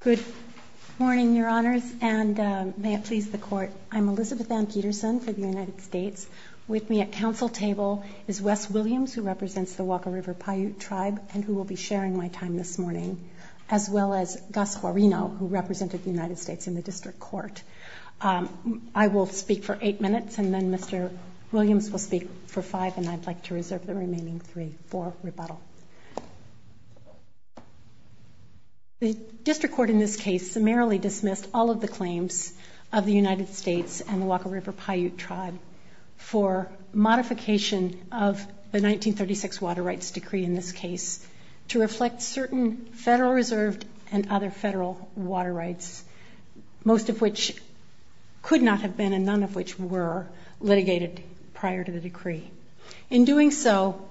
Good morning, your honors, and may it please the court, I'm Elizabeth Ann Peterson for the United States. With me at council table is Wes Williams, who represents the Walker River Paiute tribe, and who will be sharing my time this morning, as well as Gus Jorino, who represented the United States in the district court. I will speak for eight minutes and then Mr. Williams will speak for five, and I'd like to reserve the remaining three for rebuttal. The district court in this case summarily dismissed all of the claims of the United States and the Walker River Paiute tribe for modification of the 1936 water rights decree in this case to reflect certain Federal Reserve and other Federal water rights, most of which could not have been and none of which were litigated prior to the decree. In doing so,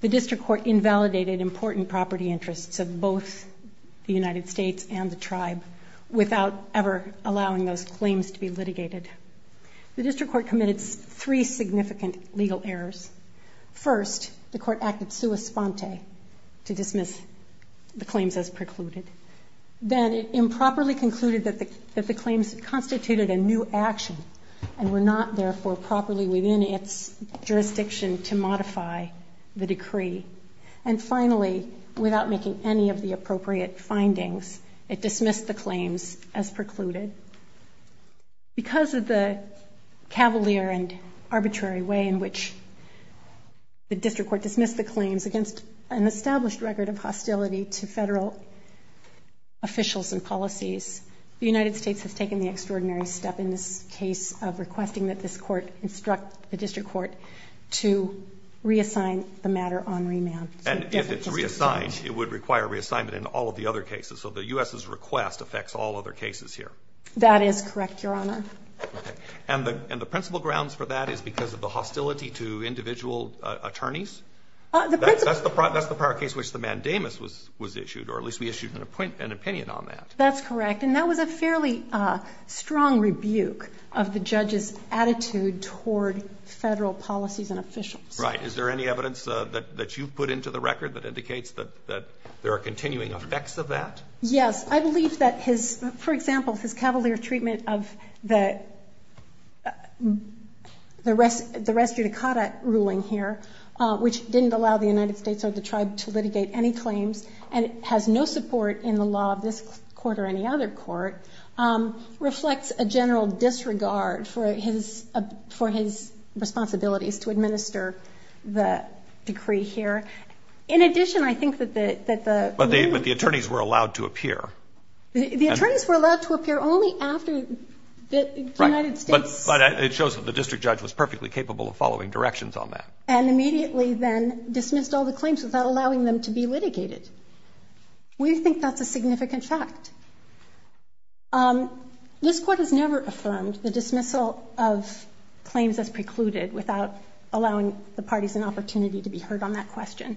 the district court invalidated important property interests of both the United States and the tribe without ever allowing those claims to be litigated. The district court committed three significant legal errors. First, the court acted sua sponte to dismiss the claims as precluded. Then it improperly concluded that the claims constituted a new action and were not, therefore, properly within its jurisdiction. And finally, without making any of the appropriate findings, it dismissed the claims as precluded. Because of the cavalier and arbitrary way in which the district court dismissed the claims against an established record of hostility to Federal officials and policies, the United States has taken the extraordinary step in this case of requesting that this court instruct the district court to re-enact the claims. And if it's re-assigned, it would require re-assignment in all of the other cases. So the U.S.'s request affects all other cases here. That is correct, Your Honor. And the principal grounds for that is because of the hostility to individual attorneys? That's the prior case in which the mandamus was issued, or at least we issued an opinion on that. That's correct. And that was a fairly strong rebuke of the judge's attitude toward Federal policies and authorities. Right. Is there any evidence that you've put into the record that indicates that there are continuing effects of that? Yes. I believe that his, for example, his cavalier treatment of the res judicata ruling here, which didn't allow the United States or the tribe to litigate any claims and has no support in the law of this court or any other court, reflects a general disregard for his responsibilities to administer the decree here. In addition, I think that the... The attorneys were allowed to appear only after the United States... Right. But it shows that the district judge was perfectly capable of following directions on that. And immediately then dismissed all the claims without allowing them to be litigated. We think that's a significant fact. This court has never affirmed the dismissal of claims as precluded without allowing the parties an opportunity to be heard on that question.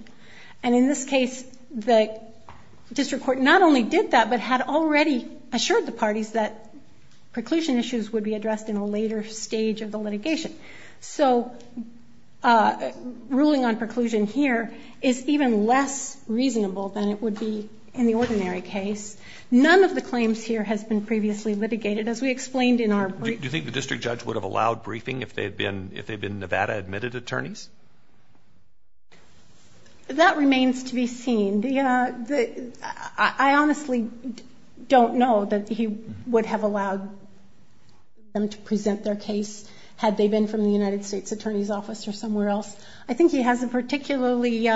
And in this case, the district court not only did that, but had already assured the parties that preclusion issues would be addressed in a later stage of the litigation. So, ruling on preclusion here is even less reasonable than it would be in the ordinary case. None of the claims here has been previously litigated, as we explained in our... Do you think the district judge would have allowed briefing if they'd been Nevada-admitted attorneys? That remains to be seen. I honestly don't know that he would have allowed them to present their case had they been from the United States attorney's office or somewhere else. I think he has a particularly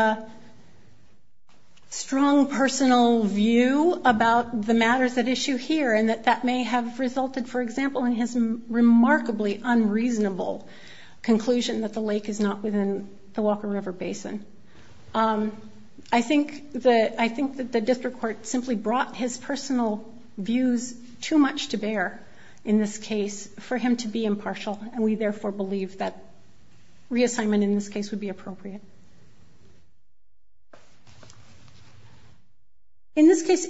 strong personal view about the matters at issue here and that that may have resulted, for example, in his remarkably unreasonable conclusion that the lake is not within the Walker River Basin. I think that the district court simply brought his personal views too much to bear in this case for him to be impartial, and we therefore believe that reassignment in this case would be appropriate. In this case,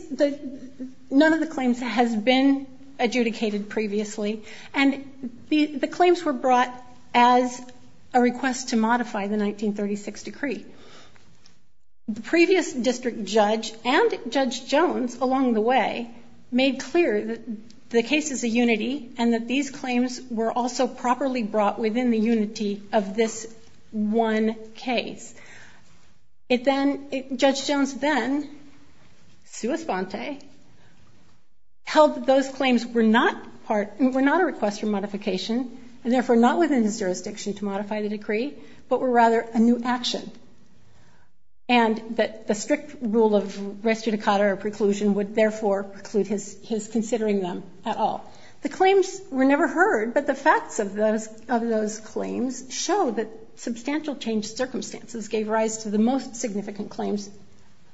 none of the claims has been adjudicated previously, and the claims were brought as a request to modify the 1936 decree. The previous district judge and Judge Jones along the way made clear that the case is a unity and that these claims were also properly brought within the unity of this one case. Judge Jones then, sua sponte, held that those claims were not a request for modification and therefore not within his jurisdiction to modify the decree, but were rather a new action, and that the strict rule of res judicata or preclusion would therefore preclude his considering them at all. The claims were never heard, but the facts of those claims show that substantial change circumstances gave rise to the most significant claims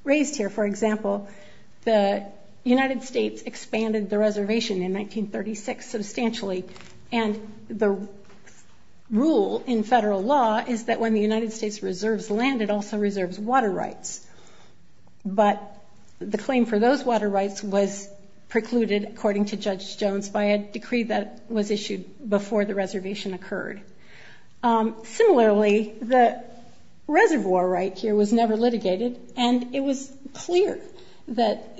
raised here. For example, the United States expanded the reservation in 1936 substantially, and the rule in federal law is that when the United States reserves land, it also reserves water rights. But the claim for those water rights was precluded, according to Judge Jones, by a decree that was issued before the reservation occurred. Similarly, the reservoir right here was never litigated, and it was clear that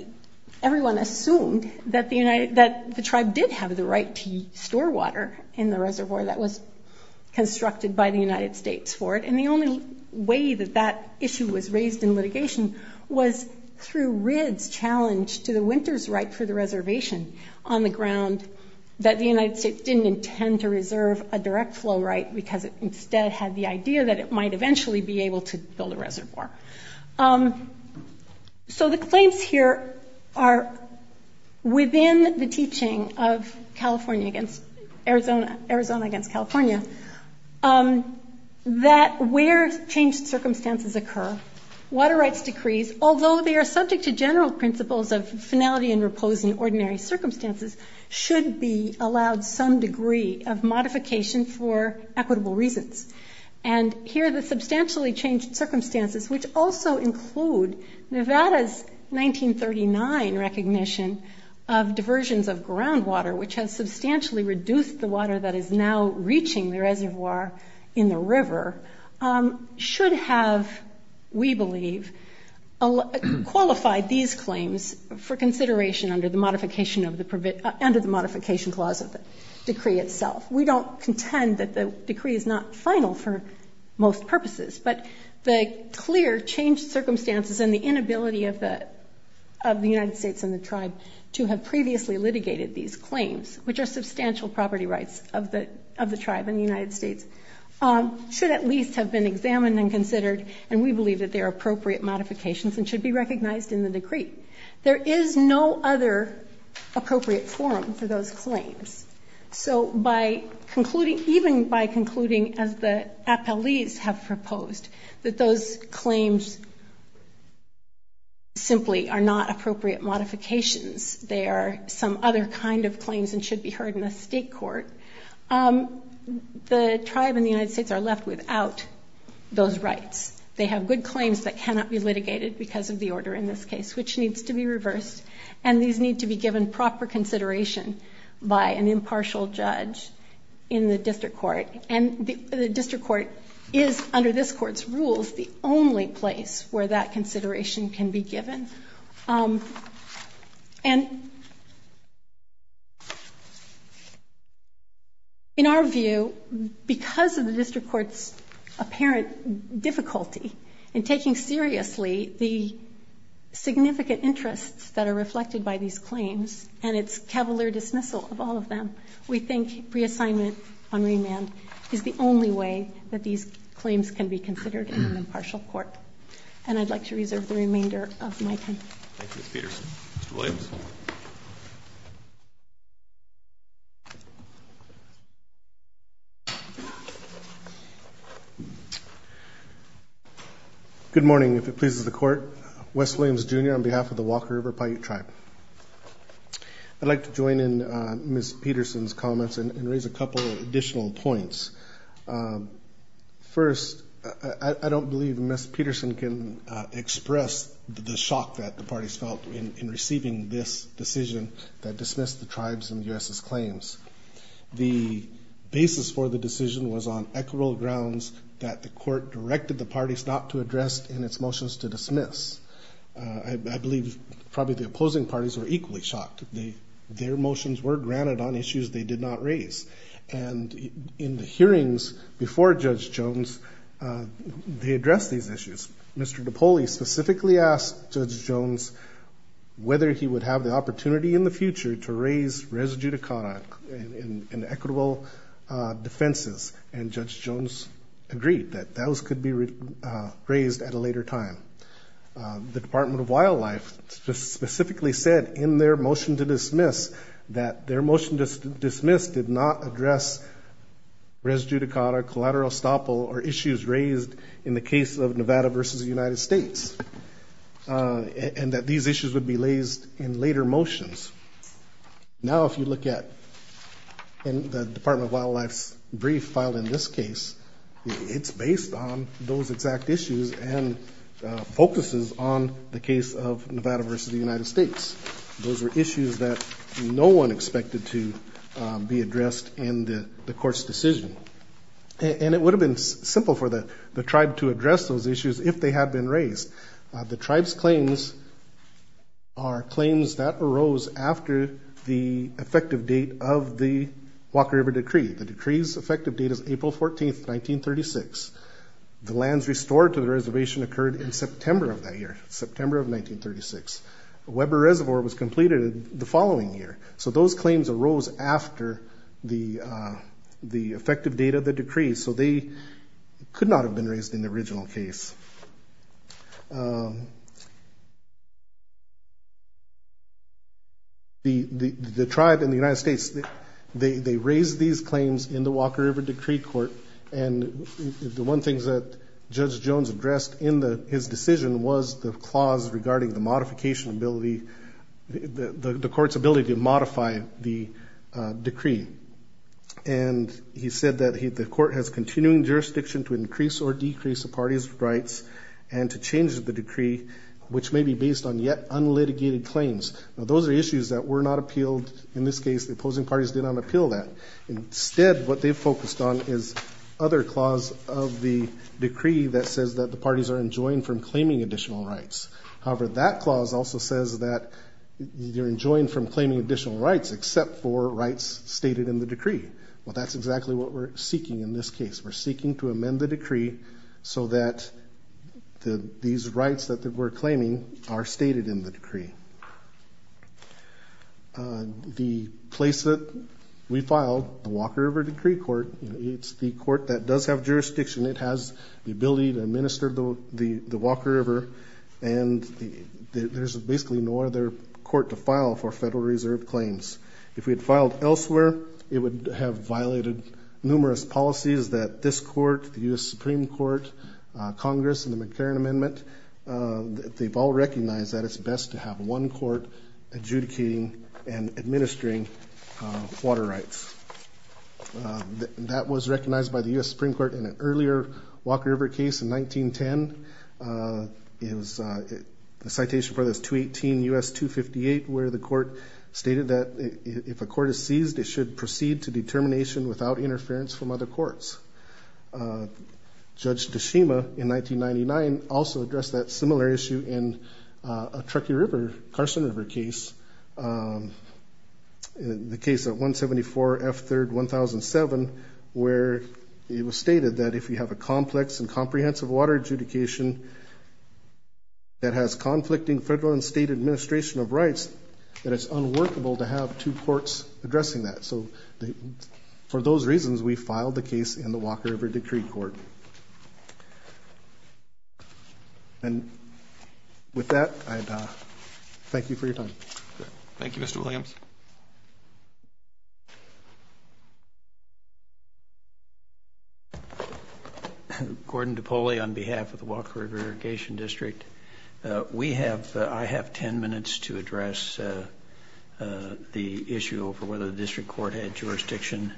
everyone assumed that the tribe did have the right to store water in the reservoir that was constructed by the United States for it. And the only way that that issue was raised in litigation was through Ridd's challenge to the Winters' right for the reservation on the ground that the United States didn't intend to reserve a direct flow right because it instead had the idea that it might eventually be able to build a reservoir. So the claims here are within the teaching of Arizona against California that where changed circumstances occur, water rights decrees, although they are subject to general principles of finality and repose in ordinary circumstances, should be allowed some degree of modification for equitable reasons. And here the substantially changed circumstances, which also include Nevada's 1939 recognition of diversions of groundwater, which has substantially reduced the water that is now reaching the reservoir in the river, should have, we believe, qualified these claims for consideration under the modification clause of the decree itself. We don't contend that the decree is not final for most purposes, but the clear changed circumstances and the inability of the United States and the tribe to have previously litigated these claims, which are substantial property rights of the tribe and the United States, should at least have been examined and considered, and we believe that they are appropriate modifications and should be recognized in the decree. There is no other appropriate forum for those claims. So by concluding, even by concluding, as the appellees have proposed, that those claims simply are not appropriate modifications. They are some other kind of claims and should be heard in a state court. The tribe and the United States are left without those rights. They have good claims that cannot be litigated because of the order in this case, which needs to be reversed, and these need to be given proper consideration by an impartial judge in the district court. And the district court is, under this court's rules, the only place where that consideration can be given. And in our view, because of the district court's apparent difficulty in taking seriously the significant interests that are reflected by these claims, and its cavalier dismissal of all of them, we think reassignment on remand is the only way that these claims can be considered in an impartial court. And I'd like to reserve the remainder of my time. Thank you, Ms. Peterson. Mr. Williams? Good morning, if it pleases the court. Wes Williams, Jr., on behalf of the Walker River Paiute Tribe. I'd like to join in Ms. Peterson's comments and raise a couple of additional points. First, I don't believe Ms. Peterson can express the shock that the parties felt in receiving this decision that dismissed the tribes and the U.S.'s claims. The basis for the decision was on equitable grounds that the court directed the parties not to address and its motions to dismiss. I believe probably the opposing parties were equally shocked. Their motions were granted on issues they did not raise. And in the hearings before Judge Jones, they addressed these issues. Mr. Napoli specifically asked Judge Jones whether he would have the opportunity in the future to raise res judicata and equitable defenses. And Judge Jones agreed that those could be raised at a later time. The Department of Wildlife specifically said in their motion to dismiss that their motion to dismiss did not address res judicata, collateral estoppel, or issues raised in the case of Nevada versus the United States, and that these issues would be raised in later motions. Now, if you look at the Department of Wildlife's brief filed in this case, it's based on those exact issues and focuses on the case of Nevada versus the United States. Those were issues that no one expected to be addressed in the court's decision. And it would have been simple for the tribe to address those issues if they had been raised. The tribe's claims are claims that arose after the effective date of the Walker River Decree. The decree's effective date is April 14, 1936. The lands restored to the reservation occurred in September of that year, September of 1936. Weber Reservoir was completed the following year. So those claims arose after the effective date of the decree, so they could not have been raised in the original case. The tribe in the United States, they raised these claims in the Walker River Decree Court, and the one thing that Judge Jones addressed in his decision was the clause regarding the modification ability, the court's ability to modify the decree. And he said that the court has continuing jurisdiction to increase or decrease a party's rights and to change the decree, which may be based on yet unlitigated claims. Now, those are issues that were not appealed in this case. The opposing parties did not appeal that. Instead, what they focused on is other clause of the decree that says that the parties are enjoined from claiming additional rights. However, that clause also says that you're enjoined from claiming additional rights except for rights stated in the decree. Well, that's exactly what we're seeking in this case. We're seeking to amend the decree so that these rights that we're claiming are stated in the decree. The place that we filed, the Walker River Decree Court, it's the court that does have jurisdiction. It has the ability to administer the Walker River, and there's basically no other court to file for Federal Reserve claims. If we had filed elsewhere, it would have violated numerous policies that this court, the U.S. Supreme Court, Congress, and the McLaren Amendment, they've all recognized that it's best to have one court adjudicating and administering water rights. That was recognized by the U.S. Supreme Court in an earlier Walker River case in 1910. It was a citation for this 218 U.S. 258 where the court stated that if a court is seized, it should proceed to determination without interference from other courts. Judge Tashima in 1999 also addressed that similar issue in a Truckee River, Carson River case. In the case of 174 F3rd 1007 where it was stated that if you have a complex and comprehensive water adjudication that has conflicting federal and state administration of rights, that it's unworkable to have two courts addressing that. So for those reasons, we filed the case in the Walker River Decree Court. And with that, I thank you for your time. Thank you, Mr. Williams. Gordon DiPoli on behalf of the Walker River Adjudication District. We have, I have 10 minutes to address the issue over whether the district court had jurisdiction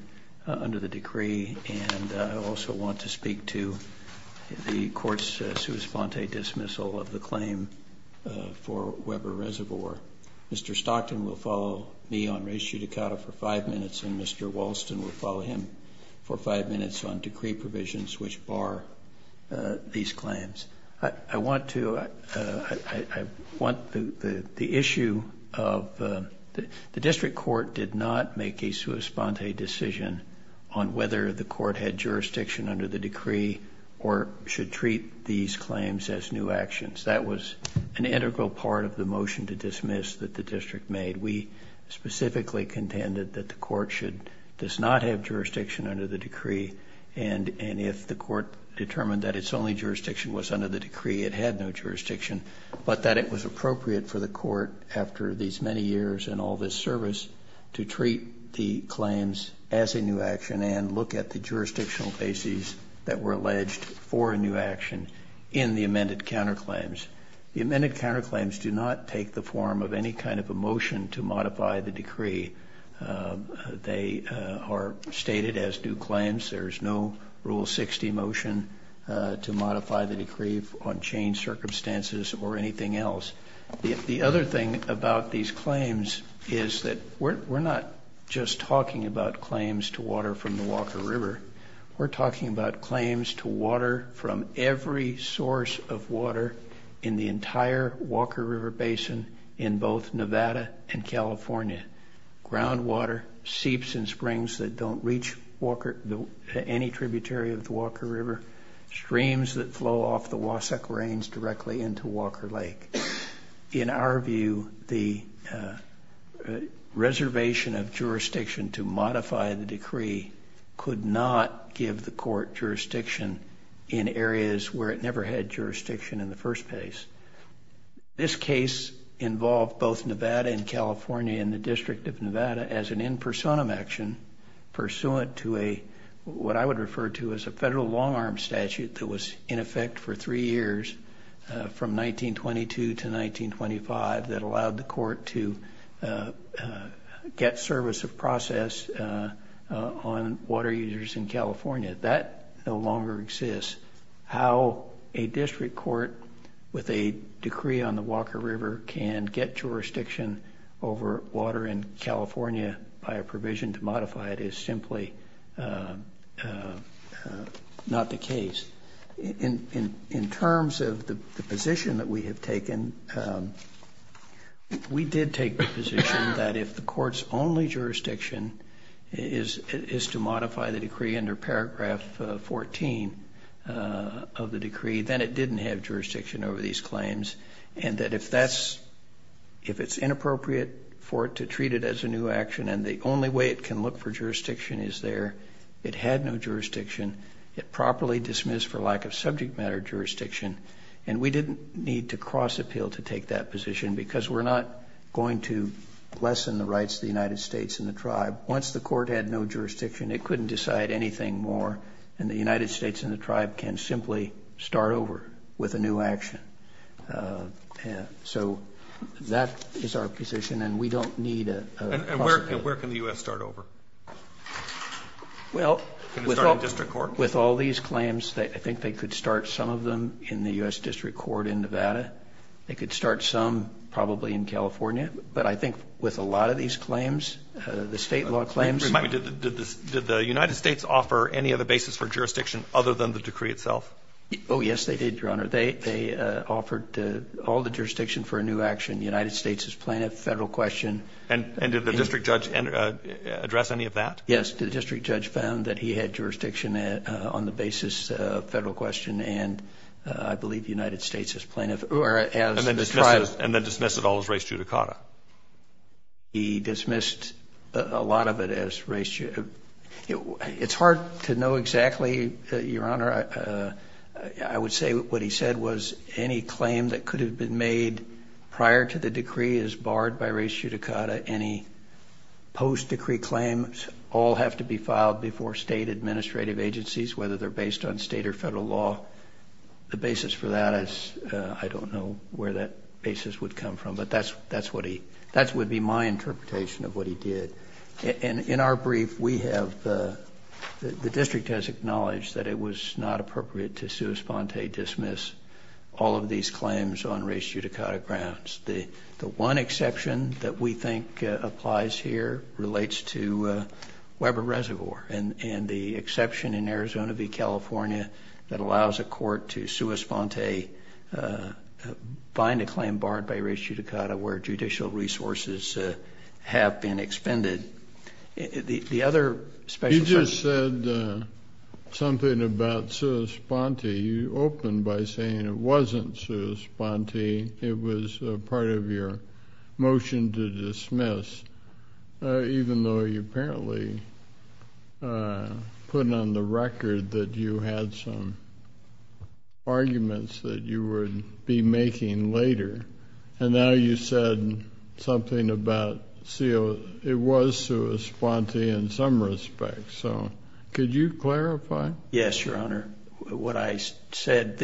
under the decree, and I also want to speak to the court's sui sponte dismissal of the claim for Weber Reservoir. Mr. Stockton will follow me on res judicata for five minutes, and Mr. Walston will follow him for five minutes on decree provisions which bar these claims. I want to, I want the issue of the district court did not make a sui sponte decision on whether the court had jurisdiction under the decree or should treat these claims as new actions. That was an integral part of the motion to dismiss that the district made. We specifically contended that the court should, does not have jurisdiction under the decree, and if the court determined that its only jurisdiction was under the decree, it had no jurisdiction, but that it was appropriate for the court, after these many years and all this service, to treat the claims as a new action and look at the jurisdictional bases that were alleged for a new action in the amended counterclaims. The amended counterclaims do not take the form of any kind of a motion to modify the decree. They are stated as new claims. There is no Rule 60 motion to modify the decree on changed circumstances or anything else. The other thing about these claims is that we're not just talking about claims to water from the Walker River. We're talking about claims to water from every source of water in the entire Walker River Basin in both Nevada and California. Groundwater, seeps and springs that don't reach any tributary of the Walker River, streams that flow off the Wasatch Range directly into Walker Lake. In our view, the reservation of jurisdiction to modify the decree could not give the court jurisdiction in areas where it never had jurisdiction in the first place. This case involved both Nevada and California and the District of Nevada as an in personam action, pursuant to what I would refer to as a federal long arm statute that was in effect for three years from 1922 to 1925 that allowed the court to get service of process on water users in California. That no longer exists. How a district court with a decree on the Walker River can get jurisdiction over water in California by a provision to modify it is simply not the case. In terms of the position that we have taken, we did take the position that if the court's only jurisdiction is to modify the decree under paragraph 14 of the decree, then it didn't have jurisdiction over these claims and that if it's inappropriate for it to treat it as a new action and the only way it can look for jurisdiction is there, it had no jurisdiction, it properly dismissed for lack of subject matter jurisdiction, and we didn't need to cross appeal to take that position because we're not going to lessen the rights of the United States and the tribe. Once the court had no jurisdiction, it couldn't decide anything more and the United States and the tribe can simply start over with a new action. So that is our position and we don't need a possibility. Where can the U.S. start over? Well, with all these claims, I think they could start some of them in the U.S. district court in Nevada. They could start some probably in California, but I think with a lot of these claims, the state law claims. Remind me, did the United States offer any other basis for jurisdiction other than the decree itself? Oh, yes, they did, Your Honor. They offered all the jurisdiction for a new action. The United States is playing a federal question. And did the district judge address any of that? Yes, the district judge found that he had jurisdiction on the basis of federal question, and I believe the United States is playing as the tribe. And then dismiss it all as race judicata. He dismissed a lot of it as race judicata. It's hard to know exactly, Your Honor. I would say what he said was any claim that could have been made prior to the decree is barred by race judicata. Any post-decree claims all have to be filed before state administrative agencies, whether they're based on state or federal law. The basis for that is I don't know where that basis would come from. But that would be my interpretation of what he did. And in our brief, we have the district has acknowledged that it was not appropriate to sua sponte dismiss all of these claims on race judicata grounds. The one exception that we think applies here relates to Weber Reservoir. And the exception in Arizona v. California that allows a court to sua sponte bind a claim barred by race judicata where judicial resources have been expended. The other special section. You just said something about sua sponte. You opened by saying it wasn't sua sponte. It was part of your motion to dismiss, even though you apparently put on the record that you had some arguments that you would be making later. And now you said something about it was sua sponte in some respect. So could you clarify? Yes, Your Honor. What I said,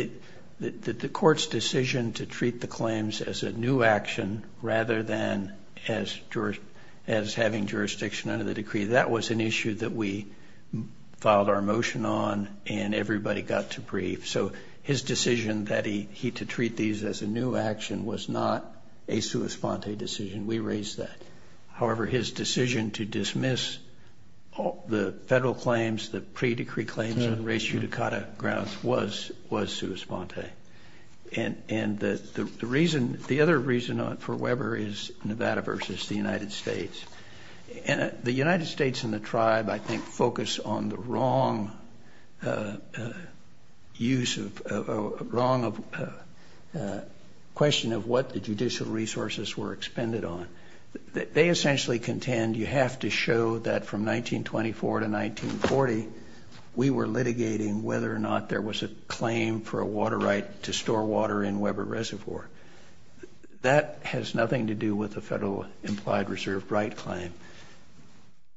the court's decision to treat the claims as a new action rather than as having jurisdiction under the decree, that was an issue that we filed our motion on and everybody got to brief. So his decision that he to treat these as a new action was not a sua sponte decision. We raised that. However, his decision to dismiss the federal claims, the pre-decree claims on race judicata grounds was sua sponte. And the other reason for Weber is Nevada v. the United States. And the United States and the tribe, I think, focus on the wrong use of, wrong question of what the judicial resources were expended on. They essentially contend you have to show that from 1924 to 1940, we were litigating whether or not there was a claim for a water right to store water in Weber Reservoir. That has nothing to do with the federal implied reserve right claim.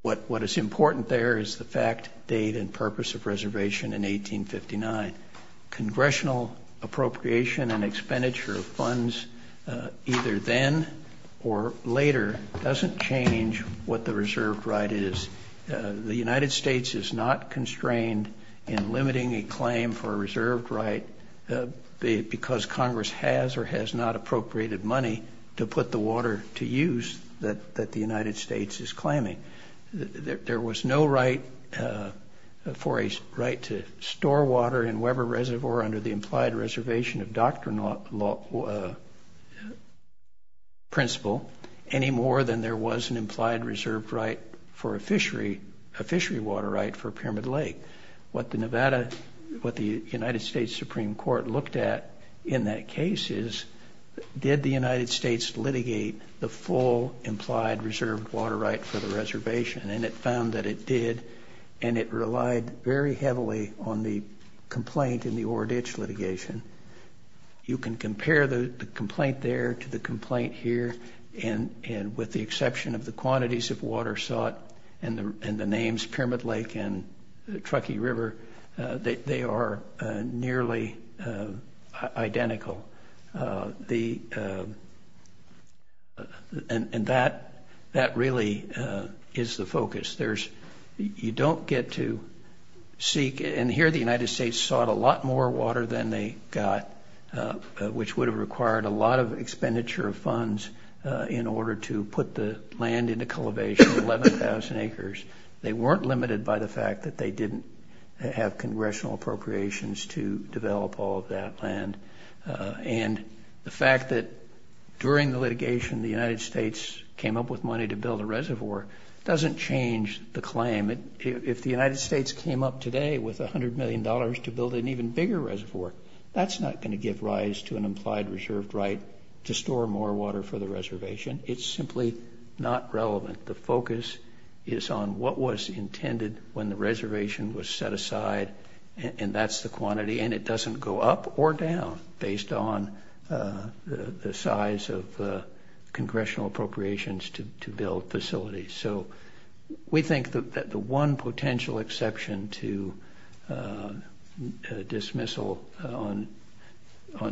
What is important there is the fact, date, and purpose of reservation in 1859. Congressional appropriation and expenditure of funds either then or later doesn't change what the reserved right is. The United States is not constrained in limiting a claim for a reserved right because Congress has or has not appropriated money to put the water to use that the United States is claiming. There was no right for a right to store water in Weber Reservoir under the implied reservation of doctrine principle any more than there was an implied reserved right for a fishery, a fishery water right for Pyramid Lake. What the Nevada, what the United States Supreme Court looked at in that case is, did the United States litigate the full implied reserved water right for the reservoir? And it found that it did, and it relied very heavily on the complaint in the Oreditch litigation. You can compare the complaint there to the complaint here, and with the exception of the quantities of water sought and the names Pyramid Lake and Truckee River, they are nearly identical. And that really is the focus. You don't get to seek, and here the United States sought a lot more water than they got, which would have required a lot of expenditure of funds in order to put the land into cultivation, 11,000 acres. They weren't limited by the fact that they didn't have congressional appropriations to develop all of that land. And the fact that during the litigation the United States came up with money to build a reservoir doesn't change the claim. If the United States came up today with $100 million to build an even bigger reservoir, that's not going to give rise to an implied reserved right to store more water for the reservation. It's simply not relevant. The focus is on what was intended when the reservation was set aside, and that's the quantity. And it doesn't go up or down based on the size of congressional appropriations to build facilities. So we think that the one potential exception to dismissal on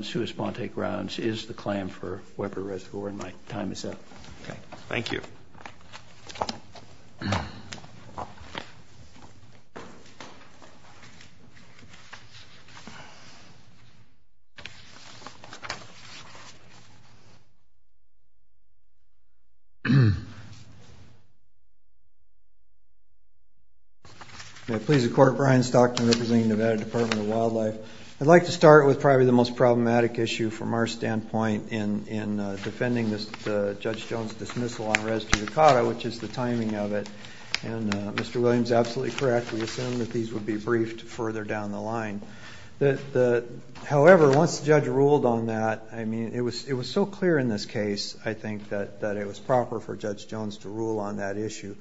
sui sponte grounds is the claim for Weber Reservoir, and my time is up. Thank you. May it please the Court, Brian Stockton, representing the Nevada Department of Wildlife. I'd like to start with probably the most problematic issue from our standpoint in defending Judge Jones' dismissal on res judicata, which is the fact that the Nevada Department of Wildlife, which is the fact that the Nevada Department of Wildlife, which is the fact that the Nevada Department of Wildlife, which is the timing of it, and Mr. Williams is absolutely correct, we assumed that these would be briefed further down the line. However, once the judge ruled on that, it was so clear in this case I think that it was proper for Judge Jones to rule on that issue.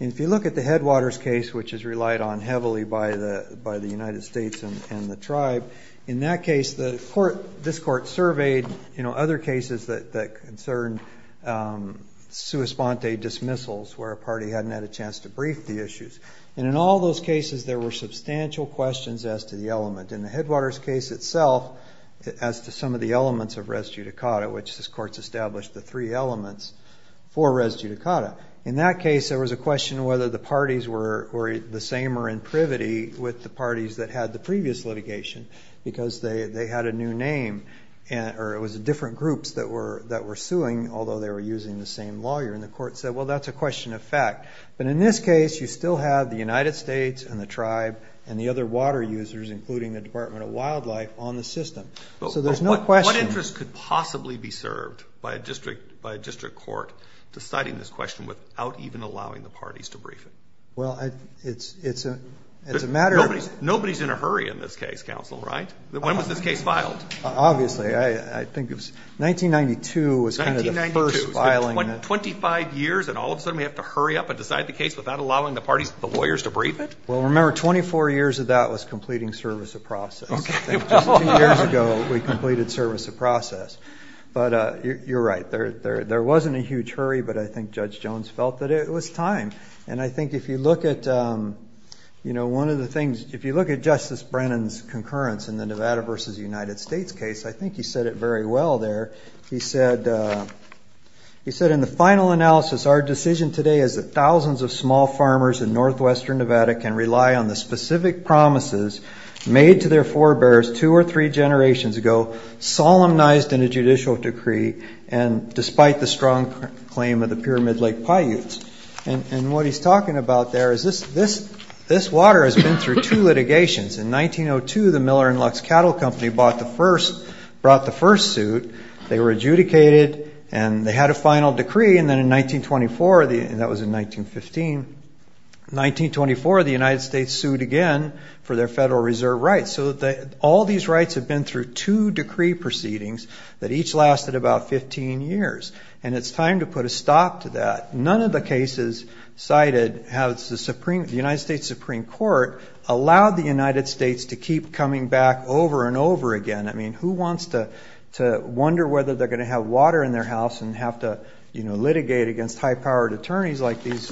And if you look at the Headwaters case, which is relied on heavily by the United States and the Tribe, in that case this Court surveyed other cases that concerned sui sponte dismissals. Where a party hadn't had a chance to brief the issues. And in all those cases there were substantial questions as to the element. In the Headwaters case itself, as to some of the elements of res judicata, which this Court's established the three elements for res judicata. In that case there was a question of whether the parties were the same or in privity with the parties that had the previous litigation. Because they had a new name, or it was different groups that were suing, although they were using the same lawyer. And the Court said, well that's a question of fact. But in this case you still have the United States and the Tribe and the other water users, including the Department of Wildlife, on the system. So there's no question... But what interest could possibly be served by a district court deciding this question without even allowing the parties to brief it? Well, it's a matter of... Well, remember 24 years of that was completing service of process. Just two years ago we completed service of process. But you're right, there wasn't a huge hurry, but I think Judge Jones felt that it was time. And I think if you look at Justice Brennan's concurrence in the Nevada v. United States case, I think he said it very well there. He said, in the final analysis, our decision today is that thousands of small farmers in northwestern Nevada can rely on the specific promises made to their forebears two or three generations ago, solemnized in a judicial decree, and despite the strong claim of the Pyramid Lake Paiutes. And what he's talking about there is this water has been through two litigations. In 1902, the Miller & Lux Cattle Company brought the first suit, they were adjudicated, and they had a final decree. And then in 1924, and that was in 1915, 1924 the United States sued again for their federal reserve rights. So all these rights have been through two decree proceedings that each lasted about 15 years. And it's time to put a stop to that. None of the cases cited have the United States Supreme Court allow the United States to keep coming back over and over again. I mean, who wants to wonder whether they're going to have water in their house and have to litigate against high-powered attorneys like these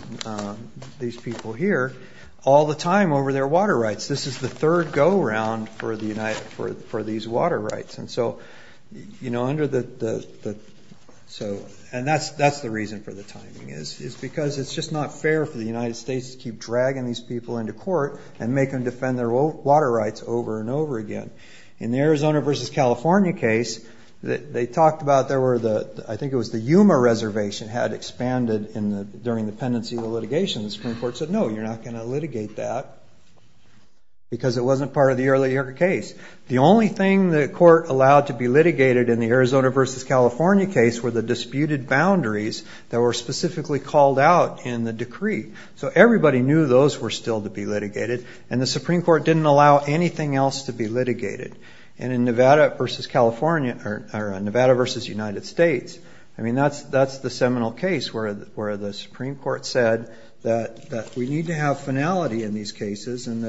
people here all the time over their water rights. This is the third go-round for these water rights. And that's the reason for the timing, is because it's just not fair for the United States to keep dragging these people into court and make them defend their water rights over and over again. In the Arizona v. California case, they talked about, I think it was the Yuma Reservation had expanded during the pendency of the litigation. The Supreme Court said, no, you're not going to litigate that because it wasn't part of the earlier case. The only thing the court allowed to be litigated in the Arizona v. California case were the disputed boundaries that were specifically called out in the decree. So everybody knew those were still to be litigated, and the Supreme Court didn't allow anything else to be litigated. And in Nevada v. California, or Nevada v. United States, I mean, that's the seminal case where the Supreme Court said that we need to have finality in these cases. And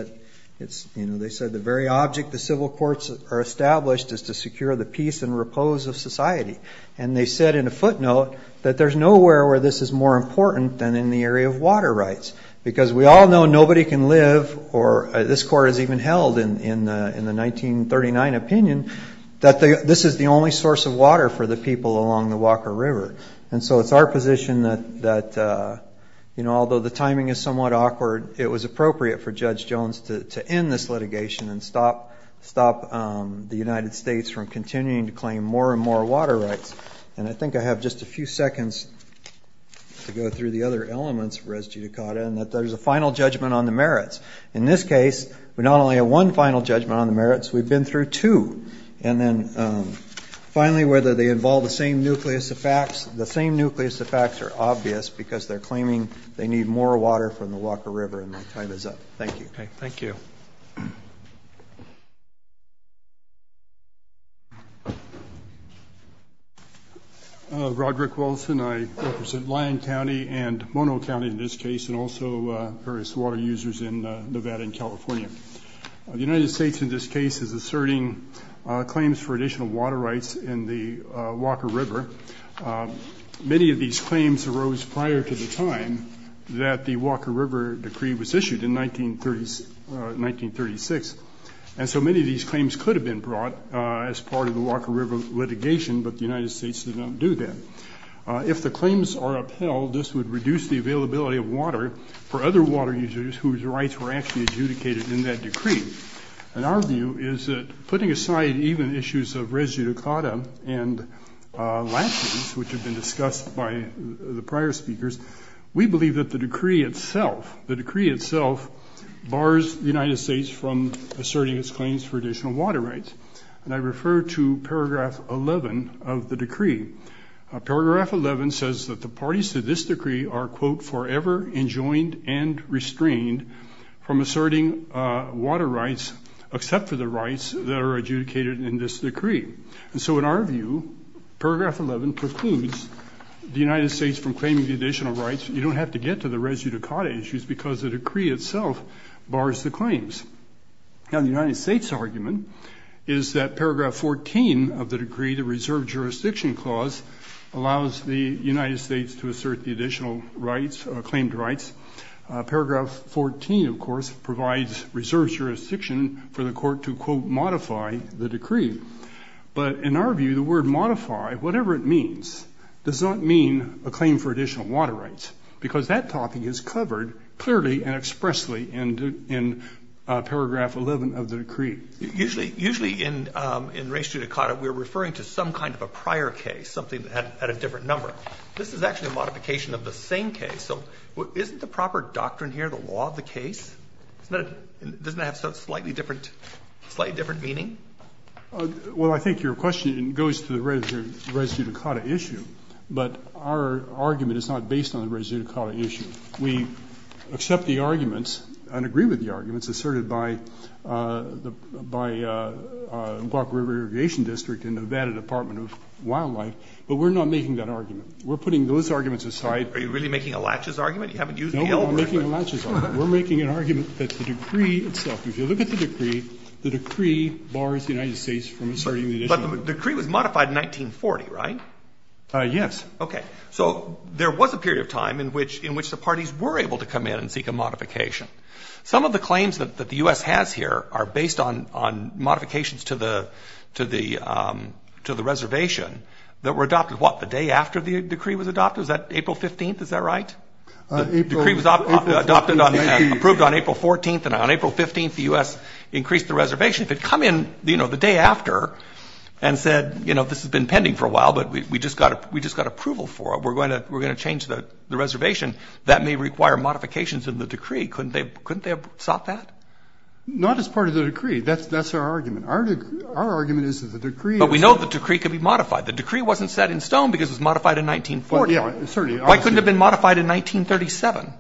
they said the very object the civil courts are established is to secure the peace and repose of society. And they said in a footnote that there's nowhere where this is more important than in the area of water rights. Because we all know nobody can live, or this court has even held in the 1939 opinion, that this is the only source of water for the people along the Walker River. And so it's our position that, you know, although the timing is somewhat awkward, it was appropriate for Judge Jones to end this litigation and stop the United States from continuing to claim more and more water rights. And I think I have just a few seconds to go through the other elements of res judicata, and that there's a final judgment on the merits. In this case, we not only have one final judgment on the merits, we've been through two. And then finally, whether they involve the same nucleus of facts, the same nucleus of facts are obvious, because they're claiming they need more water from the Walker River, and my time is up. Thank you. Roderick Wilson, I represent Lyon County and Mono County in this case, and also various water users in Nevada and California. The United States in this case is asserting claims for additional water rights in the Walker River. Many of these claims arose prior to the time that the Walker River decree was issued in 1936. And so many of these claims could have been brought as part of the Walker River litigation, but the United States did not do that. If the claims are upheld, this would reduce the availability of water for other water users whose rights were actually adjudicated in that decree. And our view is that putting aside even issues of res judicata and lapses, which have been discussed by the prior speakers, we believe that the decree itself, the decree itself, bars the United States from asserting its claims for additional water rights. And I refer to paragraph 11 of the decree. Paragraph 11 says that the parties to this decree are, quote, forever enjoined and restrained from asserting water rights except for the rights that are adjudicated in this decree. And so in our view, paragraph 11 precludes the United States from claiming the additional rights. You don't have to get to the res judicata issues because the decree itself bars the claims. Now, the United States' argument is that paragraph 14 of the decree, the reserve jurisdiction clause, allows the United States to assert the additional rights, claimed rights. Paragraph 14, of course, provides reserve jurisdiction for the court to, quote, modify the decree. But in our view, the word modify, whatever it means, does not mean a claim for additional water rights because that topic is covered clearly and expressly in the United States. And so in our view, paragraph 11 of the decree. Usually in res judicata, we're referring to some kind of a prior case, something that had a different number. This is actually a modification of the same case. So isn't the proper doctrine here the law of the case? Doesn't that have slightly different meaning? Well, I think your question goes to the res judicata issue. But our argument is not based on the res judicata issue. We accept the arguments and agree with the arguments asserted by the, by Glock River Irrigation District and Nevada Department of Wildlife. But we're not making that argument. We're putting those arguments aside. Are you really making a latches argument? You haven't used the L word. No, we're making a latches argument. We're making an argument that the decree itself. If you look at the decree, the decree bars the United States from asserting. But the decree was modified in 1940, right? Yes. Okay. So there was a period of time in which, in which the parties were able to come in and seek a modification. Some of the claims that the U.S. has here are based on, on modifications to the, to the, to the reservation that were adopted. What, the day after the decree was adopted? Is that April 15th? Is that right? The decree was adopted on, approved on April 14th. And on April 15th, the U.S. increased the reservation. If it had come in, you know, the day after and said, you know, this has been pending for a while, but we just got, we just got approval for it. We're going to, we're going to change the reservation. That may require modifications in the decree. Couldn't they, couldn't they have sought that? Not as part of the decree. That's, that's our argument. Our, our argument is that the decree. But we know the decree could be modified. The decree wasn't set in stone because it was modified in 1940. Yeah, certainly. Why couldn't it have been modified in 1937?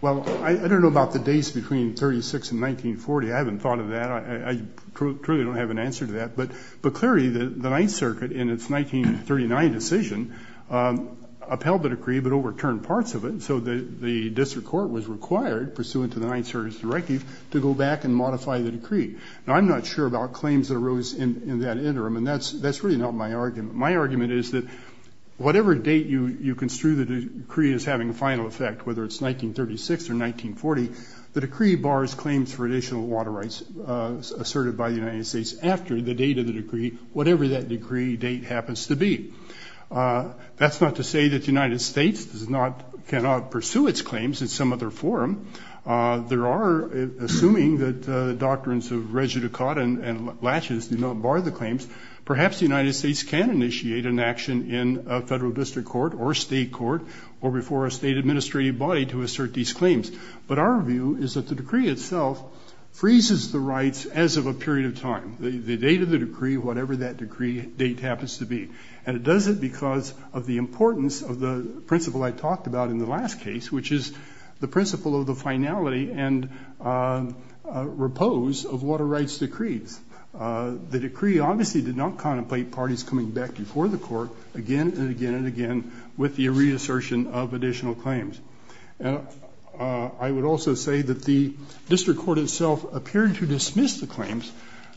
Well, I, I don't know about the days between 36 and 1940. I haven't thought of that. I, I truly don't have an answer to that. But, but clearly the, the Ninth Circuit in its 1939 decision upheld the decree but overturned parts of it. So the, the district court was required, pursuant to the Ninth Circuit's directive, to go back and modify the decree. Now I'm not sure about claims that arose in, in that interim. And that's, that's really not my argument. My argument is that whatever date you, you construe the decree as having a final effect, whether it's 1936 or 1940, the decree bars claims for additional water rights asserted by the United States after the date of the decree, whatever that decree date happens to be. That's not to say that the United States does not, cannot pursue its claims in some other forum. There are, assuming that the doctrines of Régé Ducotte and, and Latches do not bar the claims, perhaps the United States can initiate an action in a federal district court or state court or before a state administrative body to assert these claims. But our view is that the decree itself freezes the rights as of a period of time. The, the date of the decree, whatever that decree date happens to be. And it does it because of the importance of the principle I talked about in the last case, which is the principle of the finality and repose of water rights decrees. The decree obviously did not contemplate parties coming back before the court again and again and again with the reassertion of additional claims. I would also say that the district court itself appeared to dismiss the claims,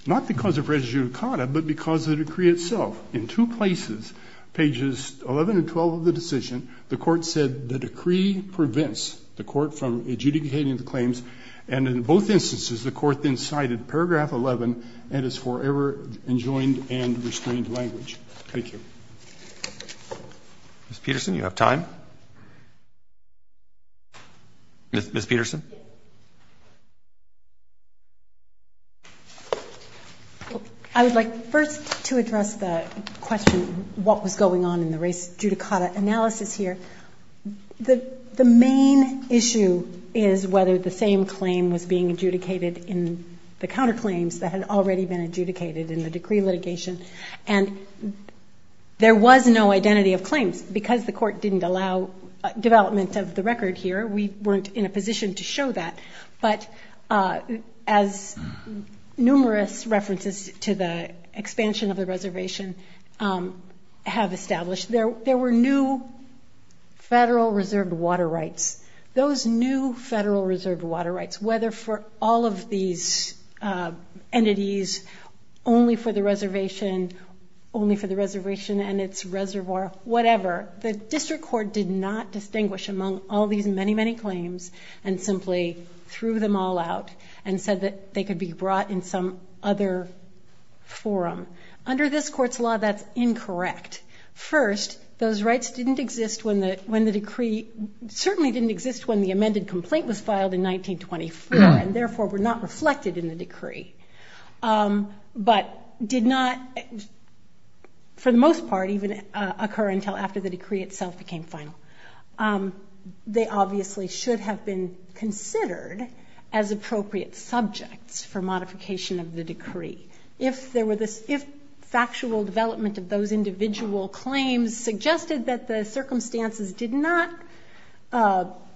not because of Régé Ducotte, but because of the decree itself. In two places, pages 11 and 12 of the decision, the court said the decree prevents the court from adjudicating the claims. And in both instances, the court then cited paragraph 11 and its forever enjoined and restrained language. Thank you. Ms. Peterson, you have time? Ms. Peterson? I would like first to address the question, what was going on in the Régé Ducotte analysis here. The main issue is whether the same claim was being adjudicated in the counterclaims that had already been adjudicated in the decree litigation. And there was no identity of claims. Because the court didn't allow development of the record here, we weren't in a position to show that. But as numerous references to the expansion of the reservation have established, there were new federal reserved water rights. Those new federal reserved water rights, whether for all of these entities, only for the reservation, only for the reservation and its reservoir, whatever, the district court did not distinguish among all these many, many claims and simply threw them all out and said that they could be brought in some other forum. Under this court's law, that's incorrect. First, those rights didn't exist when the decree, certainly didn't exist when the amended complaint was filed in 1924, and therefore were not reflected in the decree. But did not, for the most part, even occur until after the decree itself became final. They obviously should have been considered as appropriate subjects for modification of the decree. If factual development of those individual claims suggested that the circumstances did not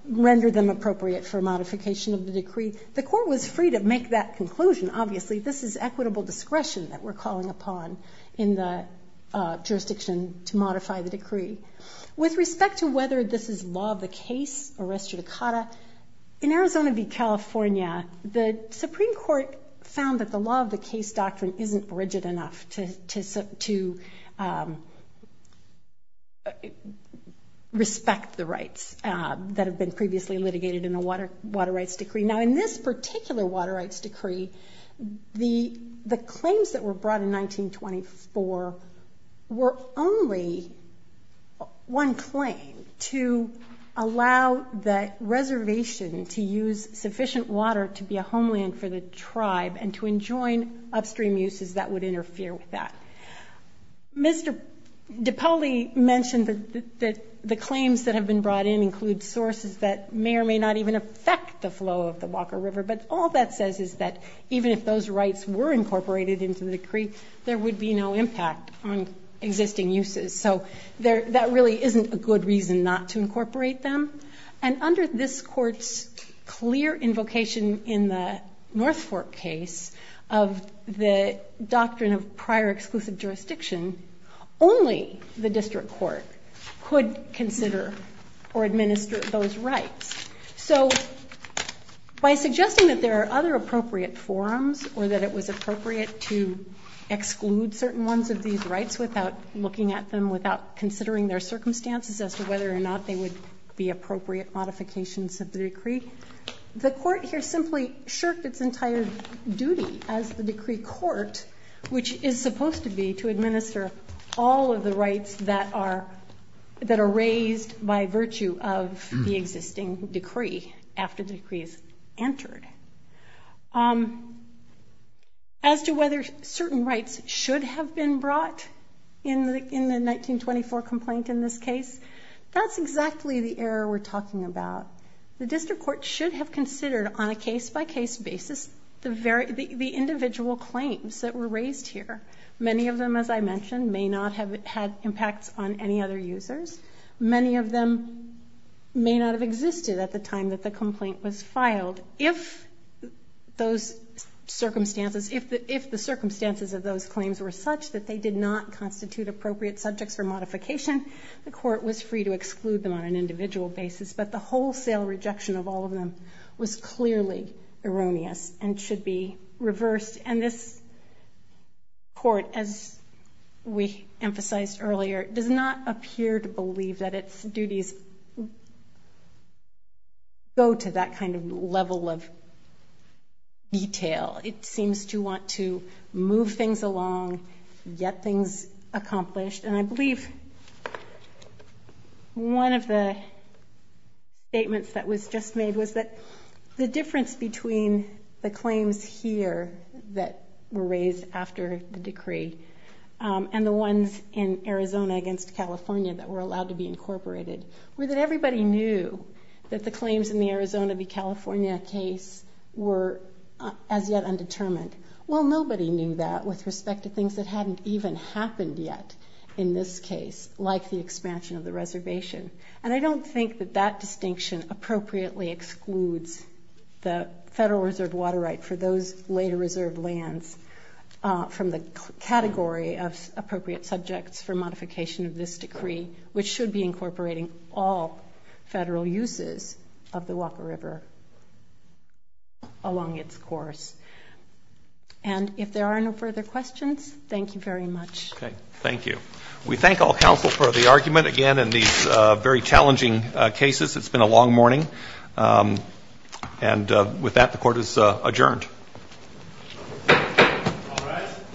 render them appropriate for modification of the decree, the court was free to make that conclusion. Obviously, this is equitable discretion that we're calling upon in the jurisdiction to modify the decree. With respect to whether this is law of the case, arrest judicata, in Arizona v. California, the Supreme Court found that the law of the case doctrine isn't rigid enough to respect the rights that have been previously litigated in a water rights decree. Now, in this particular water rights decree, the claims that were brought in 1924 were only one claim to allow the reservation to use sufficient water to be a homeland for the tribe and to enjoin upstream uses that would interfere with that. Mr. DiPaoli mentioned that the claims that have been brought in include sources that may or may not even affect the flow of the Walker River, but all that says is that even if those rights were incorporated into the decree, there would be no impact on existing uses. So that really isn't a good reason not to incorporate them. And under this court's clear invocation in the North Fork case of the doctrine of prior exclusive jurisdiction, only the district court could consider or administer those rights. So by suggesting that there are other appropriate forums or that it was appropriate to exclude certain ones of these rights without looking at them, without considering their circumstances as to whether or not they would be appropriate modifications of the decree, the court here simply shirked its entire duty as the decree court, which is supposed to be to administer all of the rights that are raised by virtue of the existing decree after the decree is entered. As to whether certain rights should have been brought in the 1924 complaint in this case, that's exactly the error we're talking about. The district court should have considered on a case-by-case basis the individual claims that were raised here. Many of them, as I mentioned, may not have had impacts on any other users. Many of them may not have existed at the time that the complaint was filed. If those circumstances, if the circumstances of those claims were such that they did not constitute appropriate subjects for modification, the court was free to exclude them on an individual basis, but the wholesale rejection of all of them was clearly erroneous and should be reversed. And this court, as we emphasized earlier, does not appear to believe that its duties go to that kind of level of detail. It seems to want to move things along, get things accomplished, and I believe one of the statements that was just made was that the difference between the claims here that were raised after the decree and the ones in Arizona against California that were allowed to be incorporated were that everybody knew that the claims in the Arizona v. California case were as yet undetermined. Well, nobody knew that with respect to things that hadn't even happened yet in this case, like the expansion of the reservation. And I don't think that that distinction appropriately excludes the Federal Reserve water right for those later reserved lands from the category of appropriate subjects for modification of this decree, which should be incorporating all Federal uses of the Walker River along its course. And if there are no further questions, thank you very much. Okay, thank you. We thank all counsel for the argument, again, in these very challenging cases. It's been a long morning. And with that, the court is adjourned. All rise.